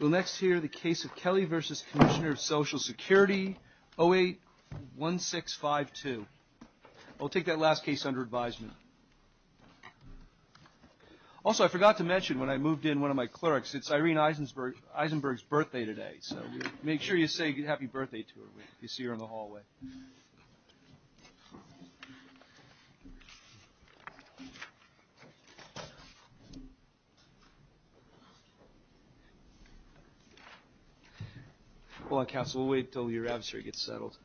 We'll next hear the case of Kelly v. Commissioner of Social Security 08-1652. I'll take that last case under advisement. Also, I forgot to mention when I moved in one of my clerks. It's Irene Eisenberg's birthday today, so make sure you say happy birthday to her if you see her in the hallway. Hold on counsel, we'll wait until your adversary gets settled.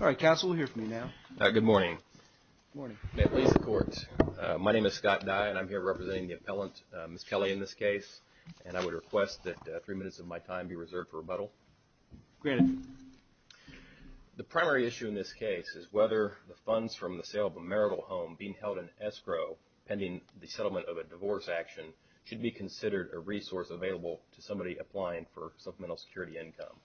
All right, counsel will hear from you now. Good morning. Good morning. May it please the court. My name is Scott Dye and I'm here representing the appellant, Ms. Kelly, in this case. And I would request that three minutes of my time be reserved for rebuttal. Granted. The primary issue in this case is whether the funds from the sale of a marital home being held in escrow pending the settlement of a divorce action should be considered a resource available to somebody applying for supplemental security income.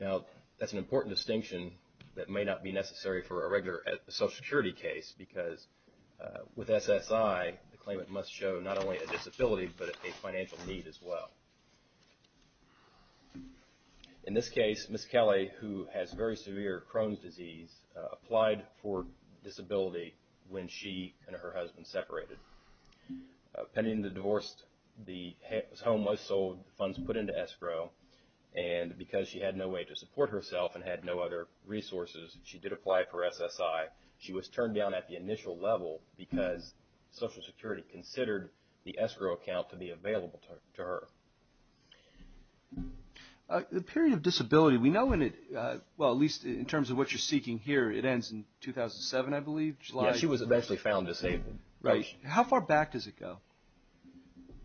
Now, that's an important distinction that may not be necessary for a regular social security case because with SSI, the claimant must show not only a disability but a financial need as well. In this case, Ms. Kelly, who has very severe Crohn's disease, applied for disability when she and her husband separated. Pending the divorce, the home was sold, funds put into escrow, and because she had no way to support herself and had no other resources, she did apply for SSI. She was turned down at the initial level because Social Security considered the escrow account to be available to her. The period of disability, we know in it, well, at least in terms of what you're seeking here, it ends in 2007, I believe, July. Yes, she was eventually found disabled. Right. How far back does it go?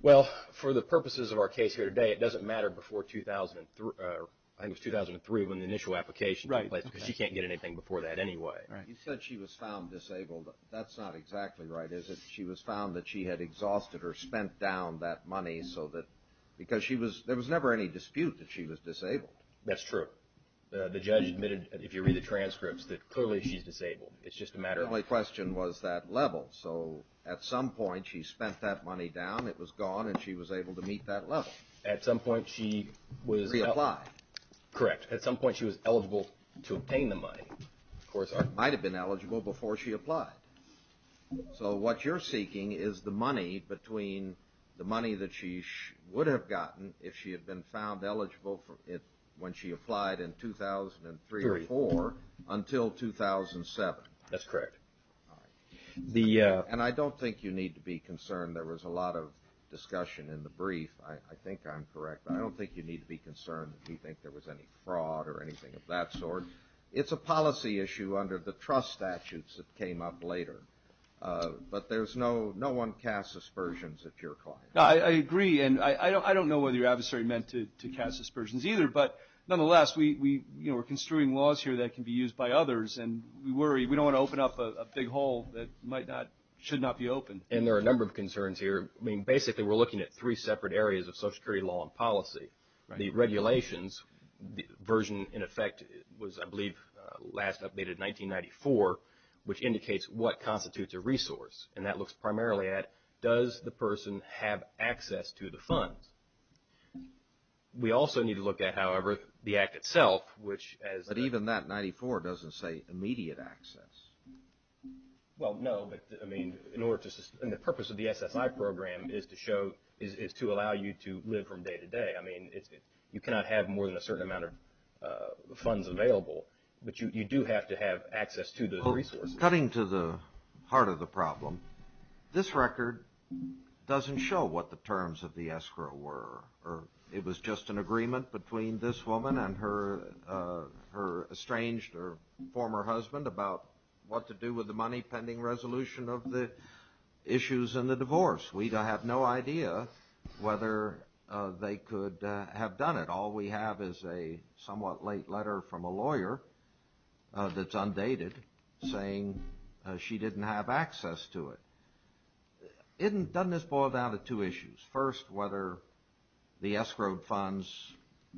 Well, for the purposes of our case here today, it doesn't matter before 2003 when the initial application took place because she can't get anything before that anyway. You said she was found disabled. That's not exactly right, is it? She was found that she had exhausted or spent down that money because there was never any dispute that she was disabled. That's true. The judge admitted, if you read the transcripts, that clearly she's disabled. It's just a matter of- The only question was that level. So at some point she spent that money down, it was gone, and she was able to meet that level. At some point she was- She applied. Correct. At some point she was eligible to obtain the money. Of course, I- Might have been eligible before she applied. So what you're seeking is the money between the money that she would have gotten if she had been found when she applied in 2003 or 2004 until 2007. That's correct. All right. And I don't think you need to be concerned. There was a lot of discussion in the brief. I think I'm correct. I don't think you need to be concerned if you think there was any fraud or anything of that sort. It's a policy issue under the trust statutes that came up later, but no one casts aspersions at your client. I agree. And I don't know whether you're adversarially meant to cast aspersions either, but nonetheless we're construing laws here that can be used by others, and we worry we don't want to open up a big hole that might not-should not be opened. And there are a number of concerns here. I mean, basically we're looking at three separate areas of Social Security law and policy. The regulations version, in effect, was, I believe, last updated in 1994, which indicates what constitutes a resource. And that looks primarily at does the person have access to the funds. We also need to look at, however, the Act itself, which as- But even that, 94, doesn't say immediate access. Well, no, but, I mean, in order to-and the purpose of the SSI program is to show-is to allow you to live from day to day. I mean, you cannot have more than a certain amount of funds available, but you do have to have access to the resources. Cutting to the heart of the problem, this record doesn't show what the terms of the escrow were. It was just an agreement between this woman and her estranged or former husband about what to do with the money pending resolution of the issues in the divorce. We have no idea whether they could have done it. All we have is a somewhat late letter from a lawyer that's undated saying she didn't have access to it. Doesn't this boil down to two issues? First, whether the escrowed funds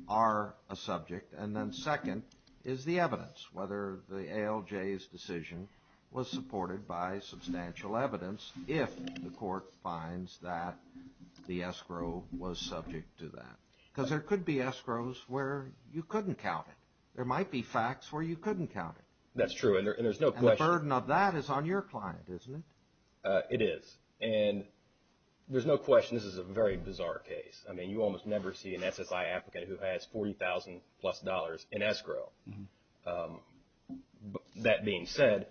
are a subject, and then second is the evidence, whether the ALJ's decision was supported by substantial evidence if the court finds that the escrow was subject to that. Because there could be escrows where you couldn't count it. There might be facts where you couldn't count it. That's true, and there's no question- And the burden of that is on your client, isn't it? It is, and there's no question this is a very bizarre case. I mean, you almost never see an SSI applicant who has $40,000 plus in escrow. That being said,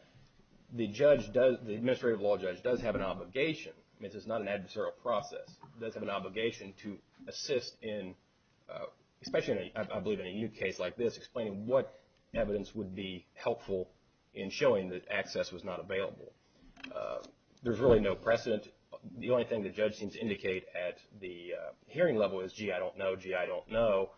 the judge does-the administrative law judge does have an obligation. I mean, this is not an adversarial process. It does have an obligation to assist in-especially, I believe, in a new case like this, explaining what evidence would be helpful in showing that access was not available. There's really no precedent. The only thing the judge seems to indicate at the hearing level is, gee, I don't know, gee, I don't know.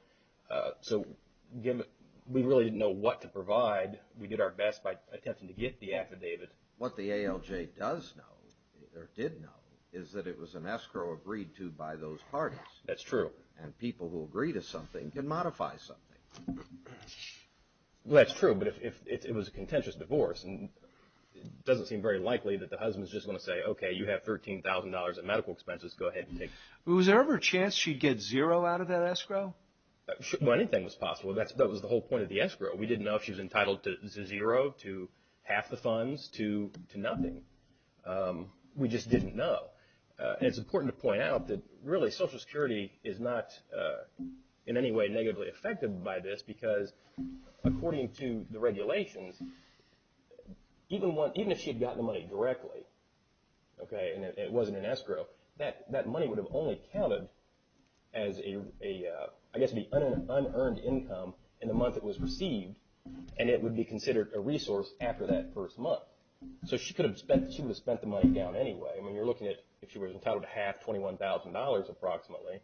So we really didn't know what to provide. We did our best by attempting to get the affidavit. What the ALJ does know, or did know, is that it was an escrow agreed to by those parties. That's true. And people who agree to something can modify something. Well, that's true, but if it was a contentious divorce, it doesn't seem very likely that the husband is just going to say, okay, you have $13,000 in medical expenses, go ahead and take- Was there ever a chance she'd get zero out of that escrow? Well, anything was possible. That was the whole point of the escrow. We didn't know if she was entitled to zero, to half the funds, to nothing. We just didn't know. And it's important to point out that, really, Social Security is not in any way negatively affected by this because, according to the regulations, even if she had gotten the money directly, okay, and it wasn't an escrow, that money would have only counted as an unearned income in the month it was received, and it would be considered a resource after that first month. So she could have spent the money down anyway. I mean, you're looking at, if she was entitled to half, $21,000 approximately,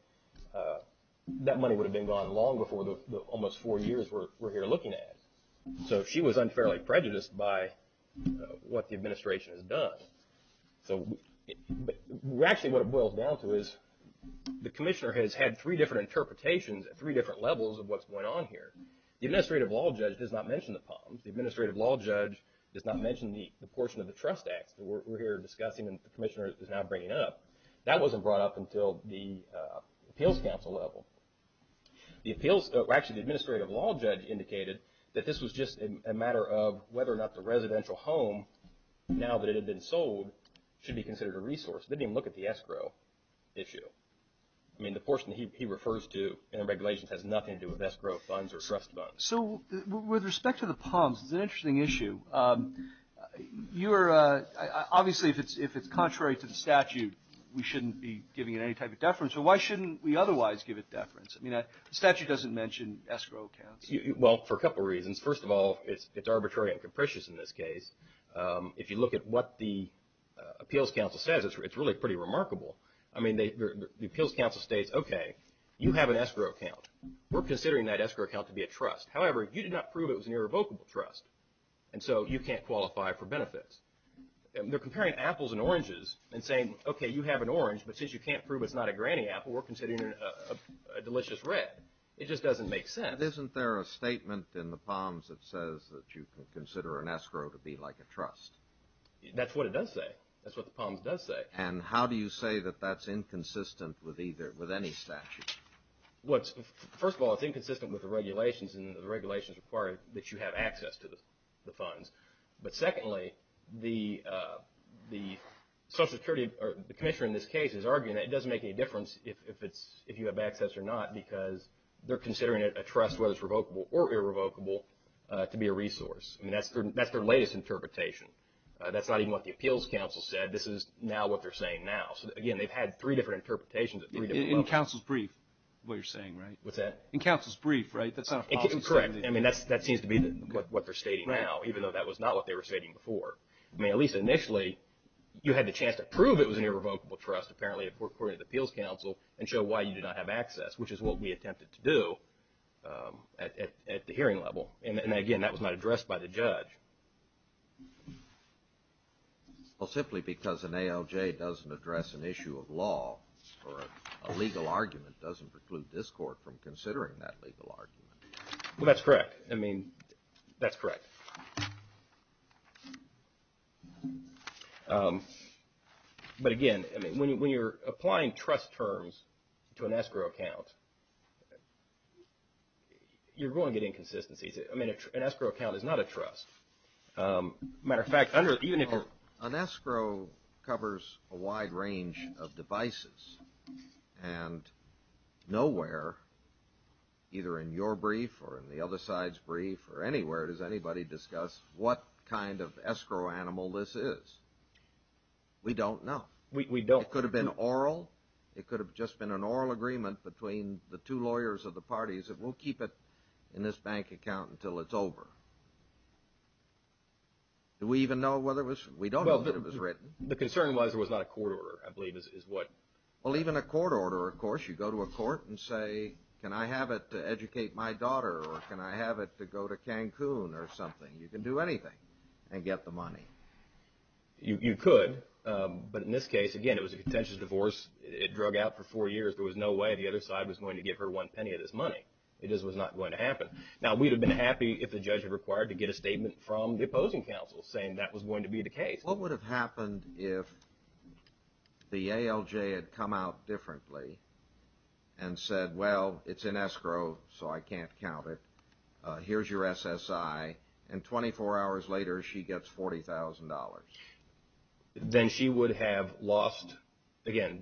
that money would have been gone long before the almost four years we're here looking at it. So she was unfairly prejudiced by what the administration has done. So actually what it boils down to is the commissioner has had three different interpretations at three different levels of what's going on here. The administrative law judge does not mention the POMS. The administrative law judge does not mention the portion of the Trust Act that we're here discussing and the commissioner is now bringing up. That wasn't brought up until the appeals council level. Actually, the administrative law judge indicated that this was just a matter of whether or not the residential home, now that it had been sold, should be considered a resource. They didn't even look at the escrow issue. I mean, the portion he refers to in the regulations has nothing to do with escrow funds or trust funds. So with respect to the POMS, it's an interesting issue. Obviously, if it's contrary to the statute, we shouldn't be giving it any type of deference, but why shouldn't we otherwise give it deference? I mean, the statute doesn't mention escrow accounts. Well, for a couple of reasons. First of all, it's arbitrary and capricious in this case. If you look at what the appeals council says, it's really pretty remarkable. I mean, the appeals council states, okay, you have an escrow account. We're considering that escrow account to be a trust. However, you did not prove it was an irrevocable trust, and so you can't qualify for benefits. They're comparing apples and oranges and saying, okay, you have an orange, but since you can't prove it's not a granny apple, we're considering it a delicious red. It just doesn't make sense. Isn't there a statement in the POMS that says that you can consider an escrow to be like a trust? That's what it does say. That's what the POMS does say. And how do you say that that's inconsistent with any statute? Well, first of all, it's inconsistent with the regulations, and the regulations require that you have access to the funds. But secondly, the Social Security Commissioner in this case is arguing that it doesn't make any difference if you have access or not because they're considering a trust, whether it's revocable or irrevocable, to be a resource. I mean, that's their latest interpretation. That's not even what the appeals council said. This is now what they're saying now. So, again, they've had three different interpretations of three different levels. In counsel's brief, what you're saying, right? What's that? In counsel's brief, right? Correct. I mean, that seems to be what they're stating now, even though that was not what they were stating before. I mean, at least initially, you had the chance to prove it was an irrevocable trust. Apparently, according to the appeals council, and show why you did not have access, which is what we attempted to do at the hearing level. And, again, that was not addressed by the judge. Well, simply because an ALJ doesn't address an issue of law or a legal argument doesn't preclude this court from considering that legal argument. Well, that's correct. I mean, that's correct. But, again, I mean, when you're applying trust terms to an escrow account, you're going to get inconsistencies. I mean, an escrow account is not a trust. Matter of fact, even if you're. An escrow covers a wide range of devices. And nowhere, either in your brief or in the other side's brief or anywhere does anybody discuss what kind of escrow animal this is. We don't know. We don't. It could have been oral. It could have just been an oral agreement between the two lawyers of the parties that we'll keep it in this bank account until it's over. Do we even know whether it was. We don't know that it was written. The concern was there was not a court order, I believe, is what. Well, even a court order. Of course, you go to a court and say, can I have it to educate my daughter or can I have it to go to Cancun or something? You can do anything and get the money. You could. But in this case, again, it was a contentious divorce. It drug out for four years. There was no way the other side was going to give her one penny of this money. It just was not going to happen. Now, we'd have been happy if the judge had required to get a statement from the opposing counsel saying that was going to be the case. What would have happened if the ALJ had come out differently and said, well, it's in escrow, so I can't count it. Here's your SSI. And 24 hours later, she gets $40,000. Then she would have lost, again,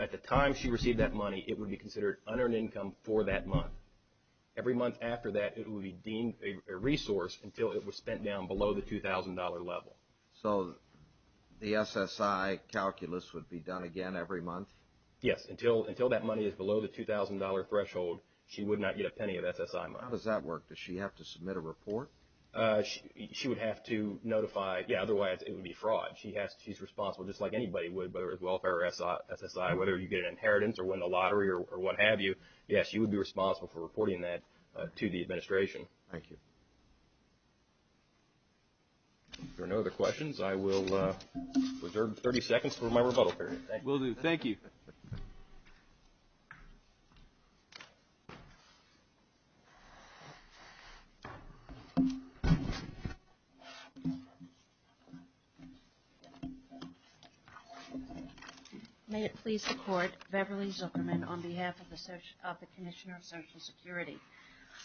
at the time she received that money, it would be considered unearned income for that month. Every month after that, it would be deemed a resource until it was spent down below the $2,000 level. So the SSI calculus would be done again every month? Yes. Until that money is below the $2,000 threshold, she would not get a penny of SSI money. How does that work? Does she have to submit a report? She would have to notify. Otherwise, it would be fraud. She's responsible just like anybody would, whether it's welfare or SSI, whether you get an inheritance or win the lottery or what have you. Yes, she would be responsible for reporting that to the administration. Thank you. If there are no other questions, I will reserve 30 seconds for my rebuttal period. Will do. Thank you. May it please the Court, Beverly Zuckerman on behalf of the Commissioner of Social Security.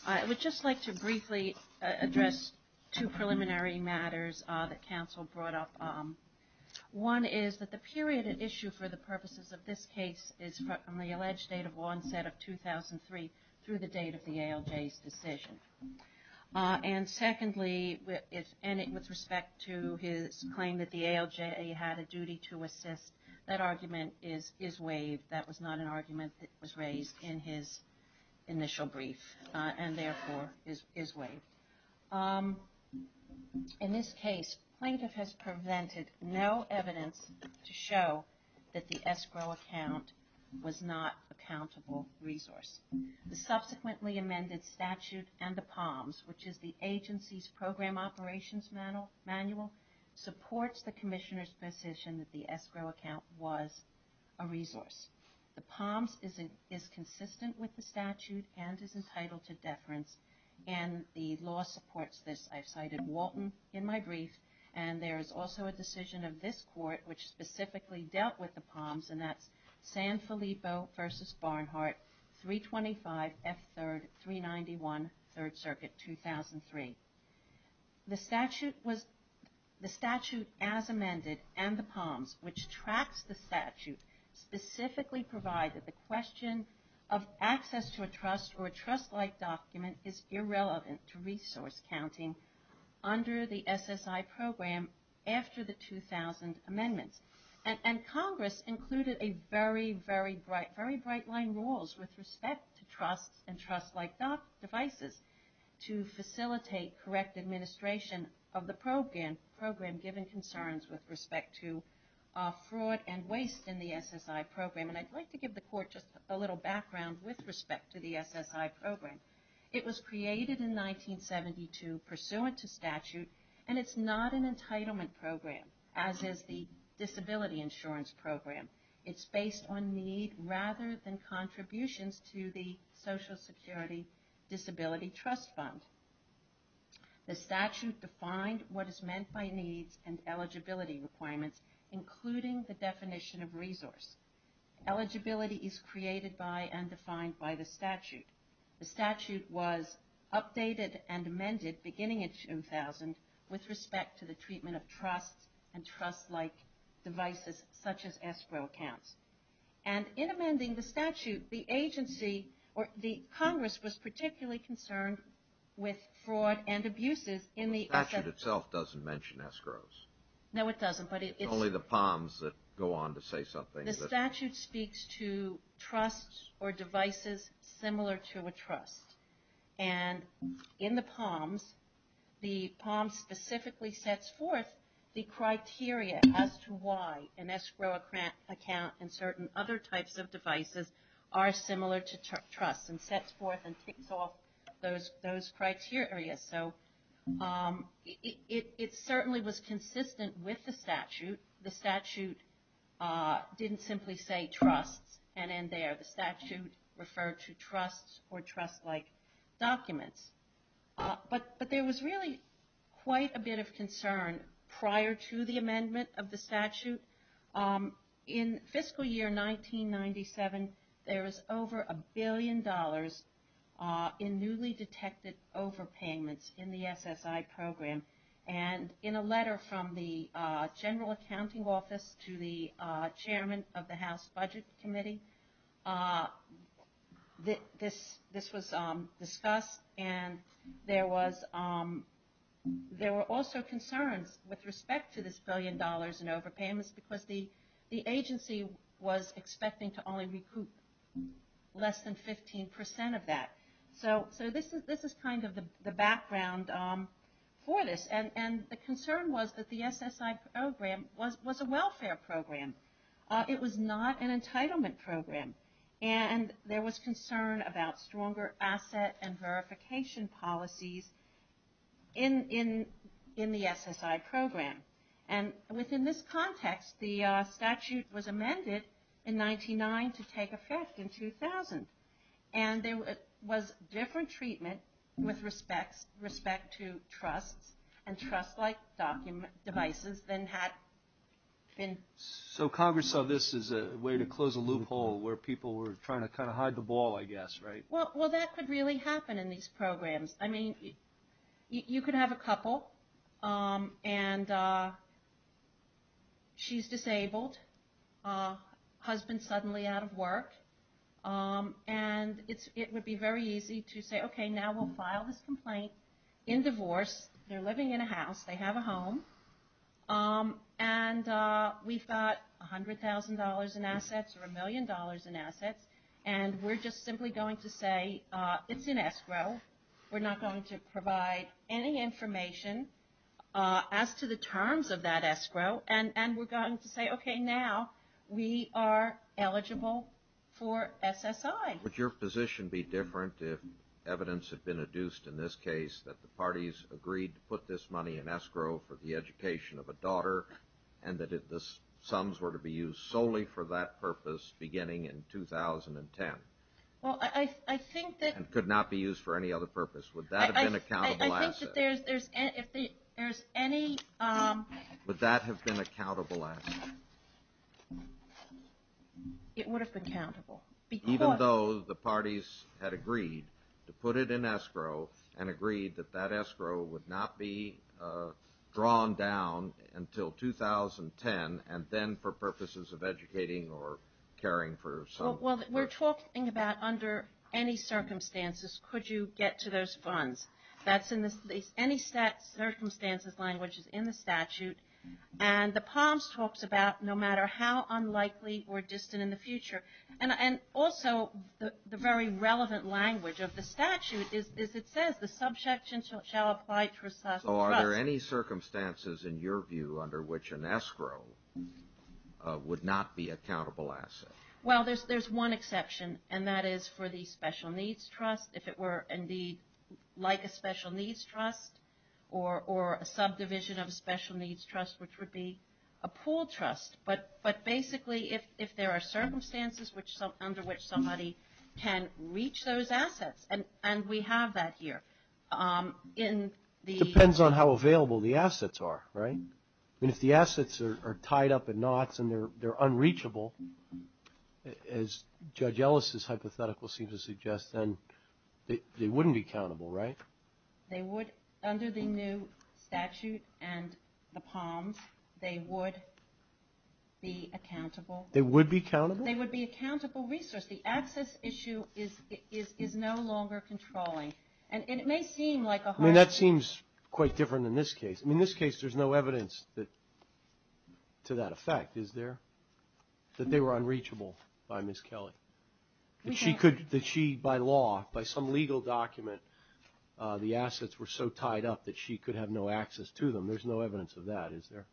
I would just like to briefly address two preliminary matters that counsel brought up. One is that the period at issue for the purposes of this case is from the alleged date of onset of 2003 through the date of the ALJ's decision. And secondly, with respect to his claim that the ALJ had a duty to assist, that argument is waived. That was not an argument that was raised in his initial brief and therefore is waived. In this case, plaintiff has prevented no evidence to show that the escrow account was not a countable resource. The subsequently amended statute and the POMS, which is the agency's program operations manual, supports the Commissioner's position that the escrow account was a resource. The POMS is consistent with the statute and is entitled to deference, and the law supports this. I've cited Walton in my brief, and there is also a decision of this Court which specifically dealt with the POMS, and that's San Filippo v. Barnhart, 325 F. 3rd, 391, 3rd Circuit, 2003. The statute as amended and the POMS, which tracks the statute, specifically provide that the question of access to a trust or a trust-like document is irrelevant to resource counting under the SSI program after the 2000 amendments. And Congress included a very, very bright, very bright line rules with respect to trusts and trust-like devices to facilitate correct administration of the program given concerns with respect to fraud and waste in the SSI program. And I'd like to give the Court just a little background with respect to the SSI program. It was created in 1972 pursuant to statute, and it's not an entitlement program, as is the disability insurance program. It's based on need rather than contributions to the Social Security Disability Trust Fund. The statute defined what is meant by needs and eligibility requirements, including the definition of resource. Eligibility is created by and defined by the statute. The statute was updated and amended beginning in 2000 with respect to the treatment of trusts and trust-like devices, such as escrow accounts. And in amending the statute, the agency or the Congress was particularly concerned with fraud and abuses in the SSI program. The statute itself doesn't mention escrows. No, it doesn't. It's only the POMS that go on to say something. The statute speaks to trusts or devices similar to a trust. And in the POMS, the POMS specifically sets forth the criteria as to why an escrow account and certain other types of devices are similar to trusts, and sets forth and takes off those criteria. So it certainly was consistent with the statute. The statute didn't simply say trusts and end there. The statute referred to trusts or trust-like documents. But there was really quite a bit of concern prior to the amendment of the statute. In fiscal year 1997, there was over a billion dollars in newly detected overpayments in the SSI program. And in a letter from the General Accounting Office to the Chairman of the House Budget Committee, this was discussed. And there were also concerns with respect to this billion dollars in overpayments, because the agency was expecting to only recoup less than 15 percent of that. So this is kind of the background for this. And the concern was that the SSI program was a welfare program. It was not an entitlement program. And there was concern about stronger asset and verification policies in the SSI program. And within this context, the statute was amended in 1999 to take effect in 2000. And there was different treatment with respect to trusts and trust-like devices than had been. So Congress saw this as a way to close a loophole where people were trying to kind of hide the ball, I guess, right? Well, that could really happen in these programs. She's disabled. Husband's suddenly out of work. And it would be very easy to say, okay, now we'll file this complaint in divorce. They're living in a house. They have a home. And we've got $100,000 in assets or a million dollars in assets. And we're just simply going to say it's in escrow. We're not going to provide any information as to the terms of that escrow. And we're going to say, okay, now we are eligible for SSI. Would your position be different if evidence had been adduced in this case that the parties agreed to put this money in escrow for the education of a daughter, and that the sums were to be used solely for that purpose beginning in 2010? And could not be used for any other purpose. Would that have been a countable asset? It would have been countable. Even though the parties had agreed to put it in escrow and agreed that that escrow would not be drawn down until 2010, and then for purposes of educating or caring for someone. Well, we're talking about under any circumstances could you get to those funds. That's in any circumstances language is in the statute. And the POMS talks about no matter how unlikely or distant in the future. And also the very relevant language of the statute is it says the subject shall apply to a trust. So are there any circumstances in your view under which an escrow would not be a countable asset? Well, there's one exception, and that is for the special needs trust. If it were indeed like a special needs trust or a subdivision of a special needs trust, which would be a pool trust. But basically if there are circumstances under which somebody can reach those assets, and we have that here. Depends on how available the assets are, right? I mean, if the assets are tied up in knots and they're unreachable, as Judge Ellis' hypothetical seems to suggest, then they wouldn't be countable, right? They would under the new statute and the POMS. They would be accountable. They would be countable? They would be a countable resource. The access issue is no longer controlling. And it may seem like a hard thing. I mean, that seems quite different in this case. I mean, in this case there's no evidence to that effect, is there? That they were unreachable by Ms. Kelly. That she, by law, by some legal document, the assets were so tied up that she could have no access to them. There's no evidence of that, is there?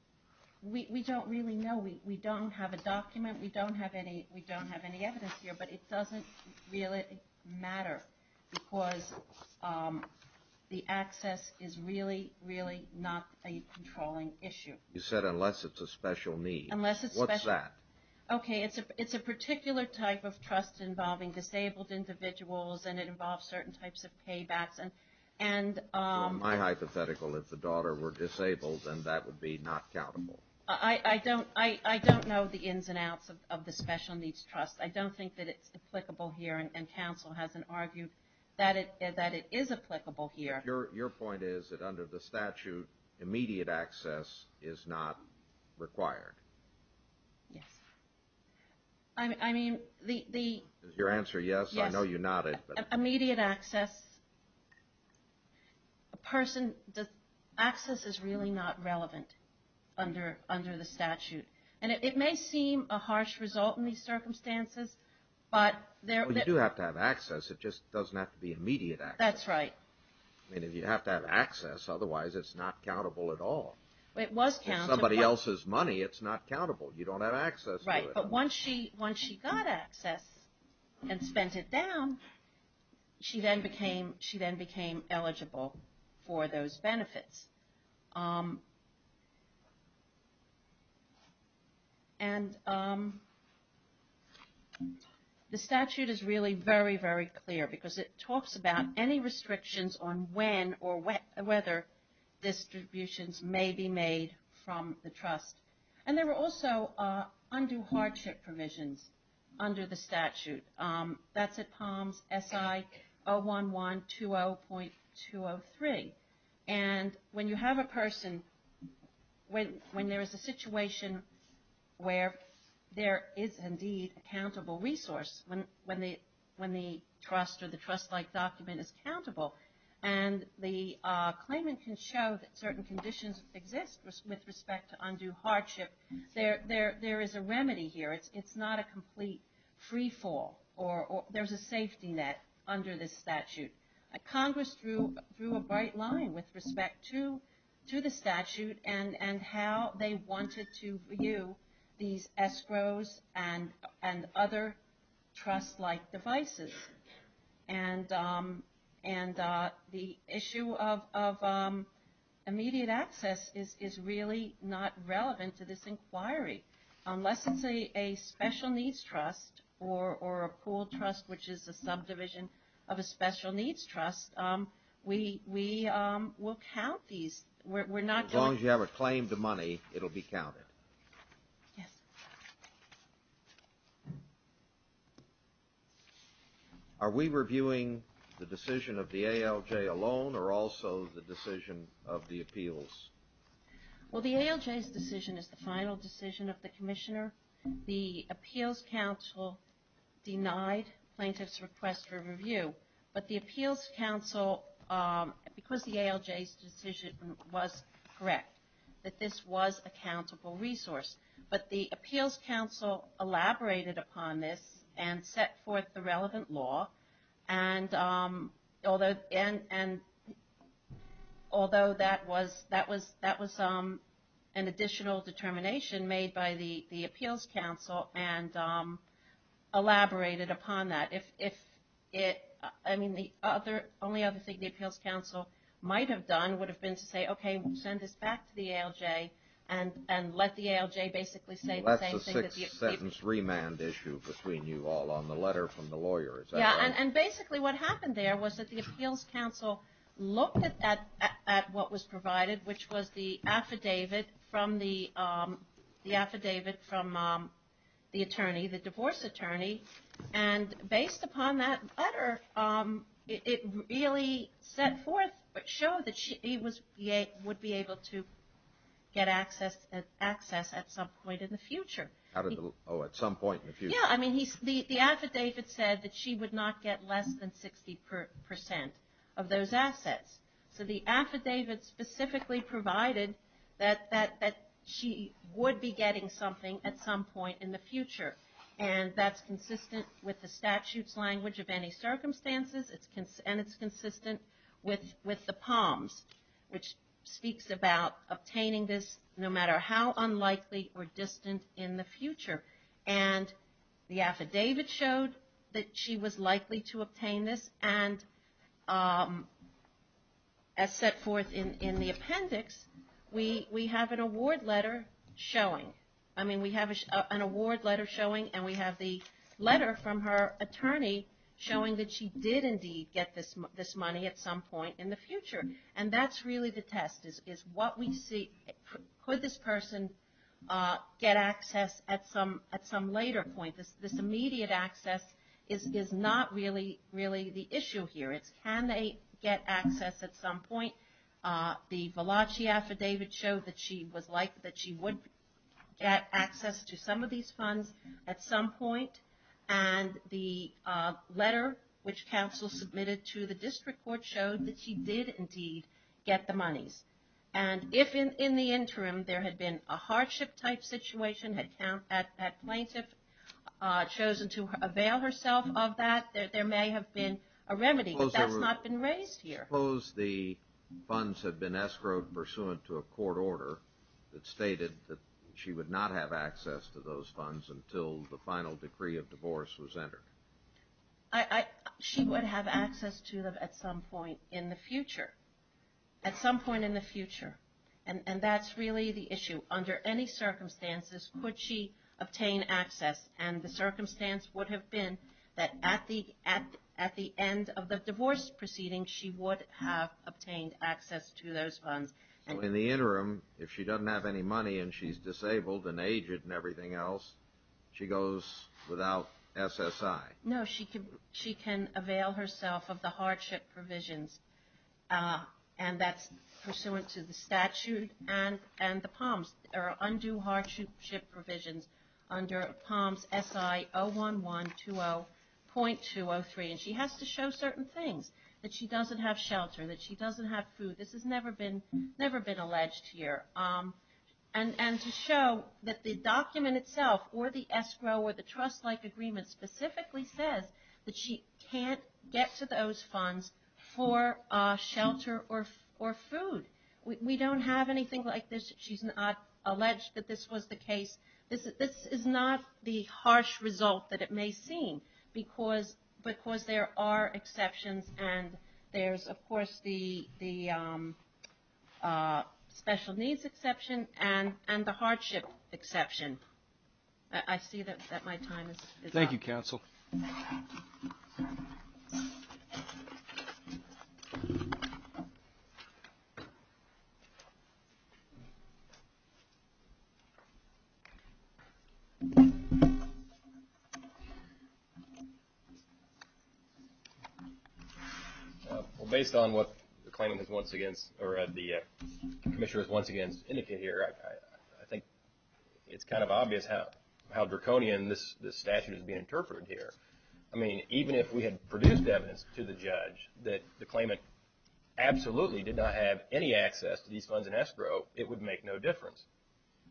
We don't really know. We don't have a document. We don't have any evidence here. But it doesn't really matter because the access is really, really not a controlling issue. You said unless it's a special need. Unless it's special. What's that? Okay, it's a particular type of trust involving disabled individuals, and it involves certain types of paybacks. My hypothetical, if the daughter were disabled, then that would be not countable. I don't know the ins and outs of the special needs trust. I don't think that it's applicable here. And counsel hasn't argued that it is applicable here. Your point is that under the statute, immediate access is not required. Yes. I mean, the... Your answer, yes, I know you nodded. Immediate access, a person, access is really not relevant under the statute. And it may seem a harsh result in these circumstances, but... Well, you do have to have access. It just doesn't have to be immediate access. That's right. I mean, if you have to have access, otherwise it's not countable at all. It was countable. It's somebody else's money. It's not countable. You don't have access to it. Right. But once she got access and spent it down, she then became eligible for those benefits. And the statute is really very, very clear because it talks about any restrictions on when or whether distributions may be made from the trust. And there were also undue hardship provisions under the statute. That's at POMS SI-011-20.203. And when you have a person, when there is a situation where there is indeed a countable resource, when the trust or the trust-like document is countable, and the claimant can show that certain conditions exist with respect to undue hardship, there is a remedy here. It's not a complete freefall or there's a safety net under this statute. Congress drew a bright line with respect to the statute and how they wanted to view these escrows and other trust-like devices. And the issue of immediate access is really not relevant to this inquiry. Unless it's a special needs trust or a pooled trust, which is a subdivision of a special needs trust, we will count these. As long as you have a claim to money, it will be counted. Yes. Are we reviewing the decision of the ALJ alone or also the decision of the appeals? Well, the ALJ's decision is the final decision of the Commissioner. The Appeals Council denied plaintiffs' request for review. But the Appeals Council, because the ALJ's decision was correct, that this was a countable resource. But the Appeals Council elaborated upon this and set forth the relevant law. And although that was an additional determination made by the Appeals Council and elaborated upon that. I mean, the only other thing the Appeals Council might have done would have been to say, okay, send this back to the ALJ and let the ALJ basically say the same thing. That's a six-sentence remand issue between you all on the letter from the lawyers. Yeah, and basically what happened there was that the Appeals Council looked at what was provided, which was the affidavit from the attorney, the divorce attorney. And based upon that letter, it really set forth, showed that she would be able to get access at some point in the future. Oh, at some point in the future. Yeah, I mean, the affidavit said that she would not get less than 60% of those assets. So the affidavit specifically provided that she would be getting something at some point in the future. And that's consistent with the statute's language of any circumstances, and it's consistent with the POMS, which speaks about obtaining this no matter how unlikely or distant in the future. And the affidavit showed that she was likely to obtain this. And as set forth in the appendix, we have an award letter showing. I mean, we have an award letter showing, and we have the letter from her attorney showing that she did, indeed, get this money at some point in the future. And that's really the test, is what we see. Could this person get access at some later point? This immediate access is not really the issue here. It's can they get access at some point. The Valachi affidavit showed that she was likely that she would get access to some of these funds at some point. And the letter which counsel submitted to the district court showed that she did, indeed, get the monies. And if in the interim there had been a hardship-type situation, had that plaintiff chosen to avail herself of that, there may have been a remedy, but that's not been raised here. I suppose the funds had been escrowed pursuant to a court order that stated that she would not have access to those funds until the final decree of divorce was entered. She would have access to them at some point in the future, at some point in the future. And that's really the issue. Under any circumstances, could she obtain access? And the circumstance would have been that at the end of the divorce proceeding, she would have obtained access to those funds. So in the interim, if she doesn't have any money and she's disabled and aged and everything else, she goes without SSI? No, she can avail herself of the hardship provisions, and that's pursuant to the statute and the POMS, or Undue Hardship Provisions under POMS SI 01120.203. And she has to show certain things, that she doesn't have shelter, that she doesn't have food. This has never been alleged here. And to show that the document itself or the escrow or the trust-like agreement specifically says that she can't get to those funds for shelter or food. We don't have anything like this. She's not alleged that this was the case. This is not the harsh result that it may seem, because there are exceptions. And there's, of course, the special needs exception and the hardship exception. I see that my time is up. Thank you, Counsel. Well, based on what the claimant has once against or the Commissioner has once again indicated here, I think it's kind of obvious how draconian this statute is being interpreted here. I mean, even if we had produced evidence to the judge that the claimant absolutely did not have any access to these funds in escrow, it would make no difference.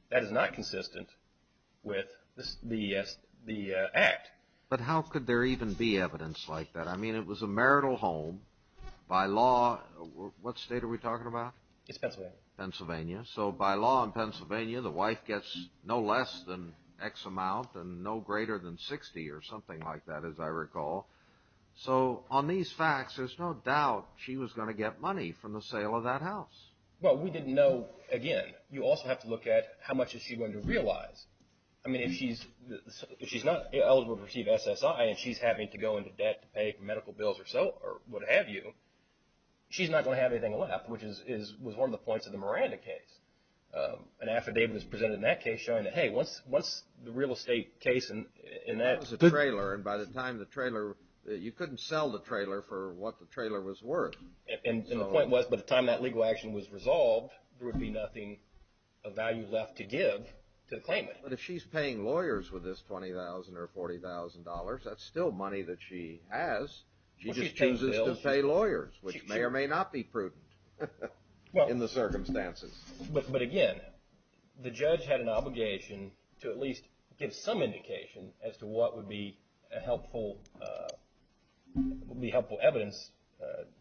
That is not consistent with the act. But how could there even be evidence like that? I mean, it was a marital home. By law, what state are we talking about? It's Pennsylvania. Pennsylvania. So by law in Pennsylvania, the wife gets no less than X amount and no greater than 60 or something like that, as I recall. So on these facts, there's no doubt she was going to get money from the sale of that house. Well, we didn't know, again, you also have to look at how much is she going to realize. I mean, if she's not eligible to receive SSI and she's having to go into debt to pay medical bills or so or what have you, she's not going to have anything left, which was one of the points of the Miranda case. An affidavit was presented in that case showing that, hey, what's the real estate case in that? That was a trailer, and by the time the trailer – you couldn't sell the trailer for what the trailer was worth. And the point was, by the time that legal action was resolved, there would be nothing of value left to give to the claimant. But if she's paying lawyers with this $20,000 or $40,000, that's still money that she has. She just chooses to pay lawyers, which may or may not be prudent in the circumstances. But again, the judge had an obligation to at least give some indication as to what would be helpful evidence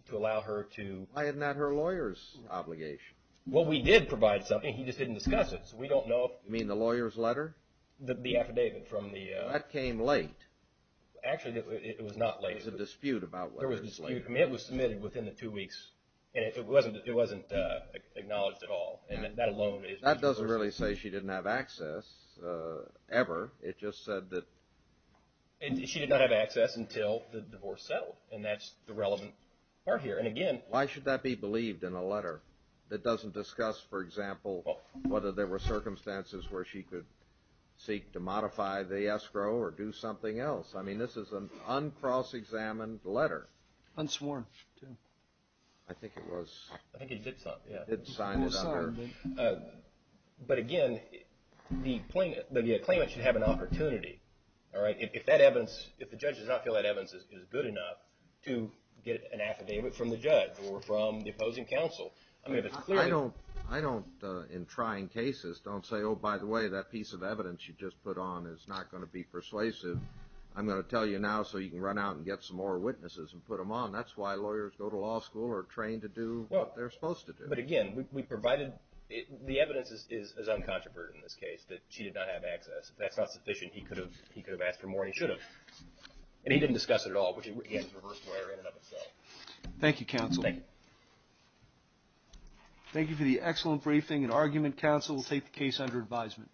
to allow her to – Why isn't that her lawyer's obligation? Well, we did provide something. He just didn't discuss it, so we don't know. You mean the lawyer's letter? The affidavit from the – That came late. Actually, it was not late. There was a dispute about whether it was late. There was a dispute. I mean, it was submitted within the two weeks, and it wasn't acknowledged at all. And that alone is – That doesn't really say she didn't have access ever. It just said that – She did not have access until the divorce settled, and that's the relevant part here. And again – What else? I mean, this is an uncross-examined letter. Unsworn, too. I think it was – I think it did something, yeah. It signed it under – It was signed. But again, the claimant should have an opportunity, all right, if that evidence – if the judge does not feel that evidence is good enough to get an affidavit from the judge or from the opposing counsel. I mean, if it's clear – I don't, in trying cases, don't say, oh, by the way, that piece of evidence you just put on is not going to be persuasive. I'm going to tell you now so you can run out and get some more witnesses and put them on. That's why lawyers go to law school or are trained to do what they're supposed to do. But again, we provided – the evidence is uncontroverted in this case, that she did not have access. If that's not sufficient, he could have asked for more, and he should have. And he didn't discuss it at all, which is a reverse lawyer in and of itself. Thank you, counsel. Thank you. Thank you for the excellent briefing. And argument counsel will take the case under advisement.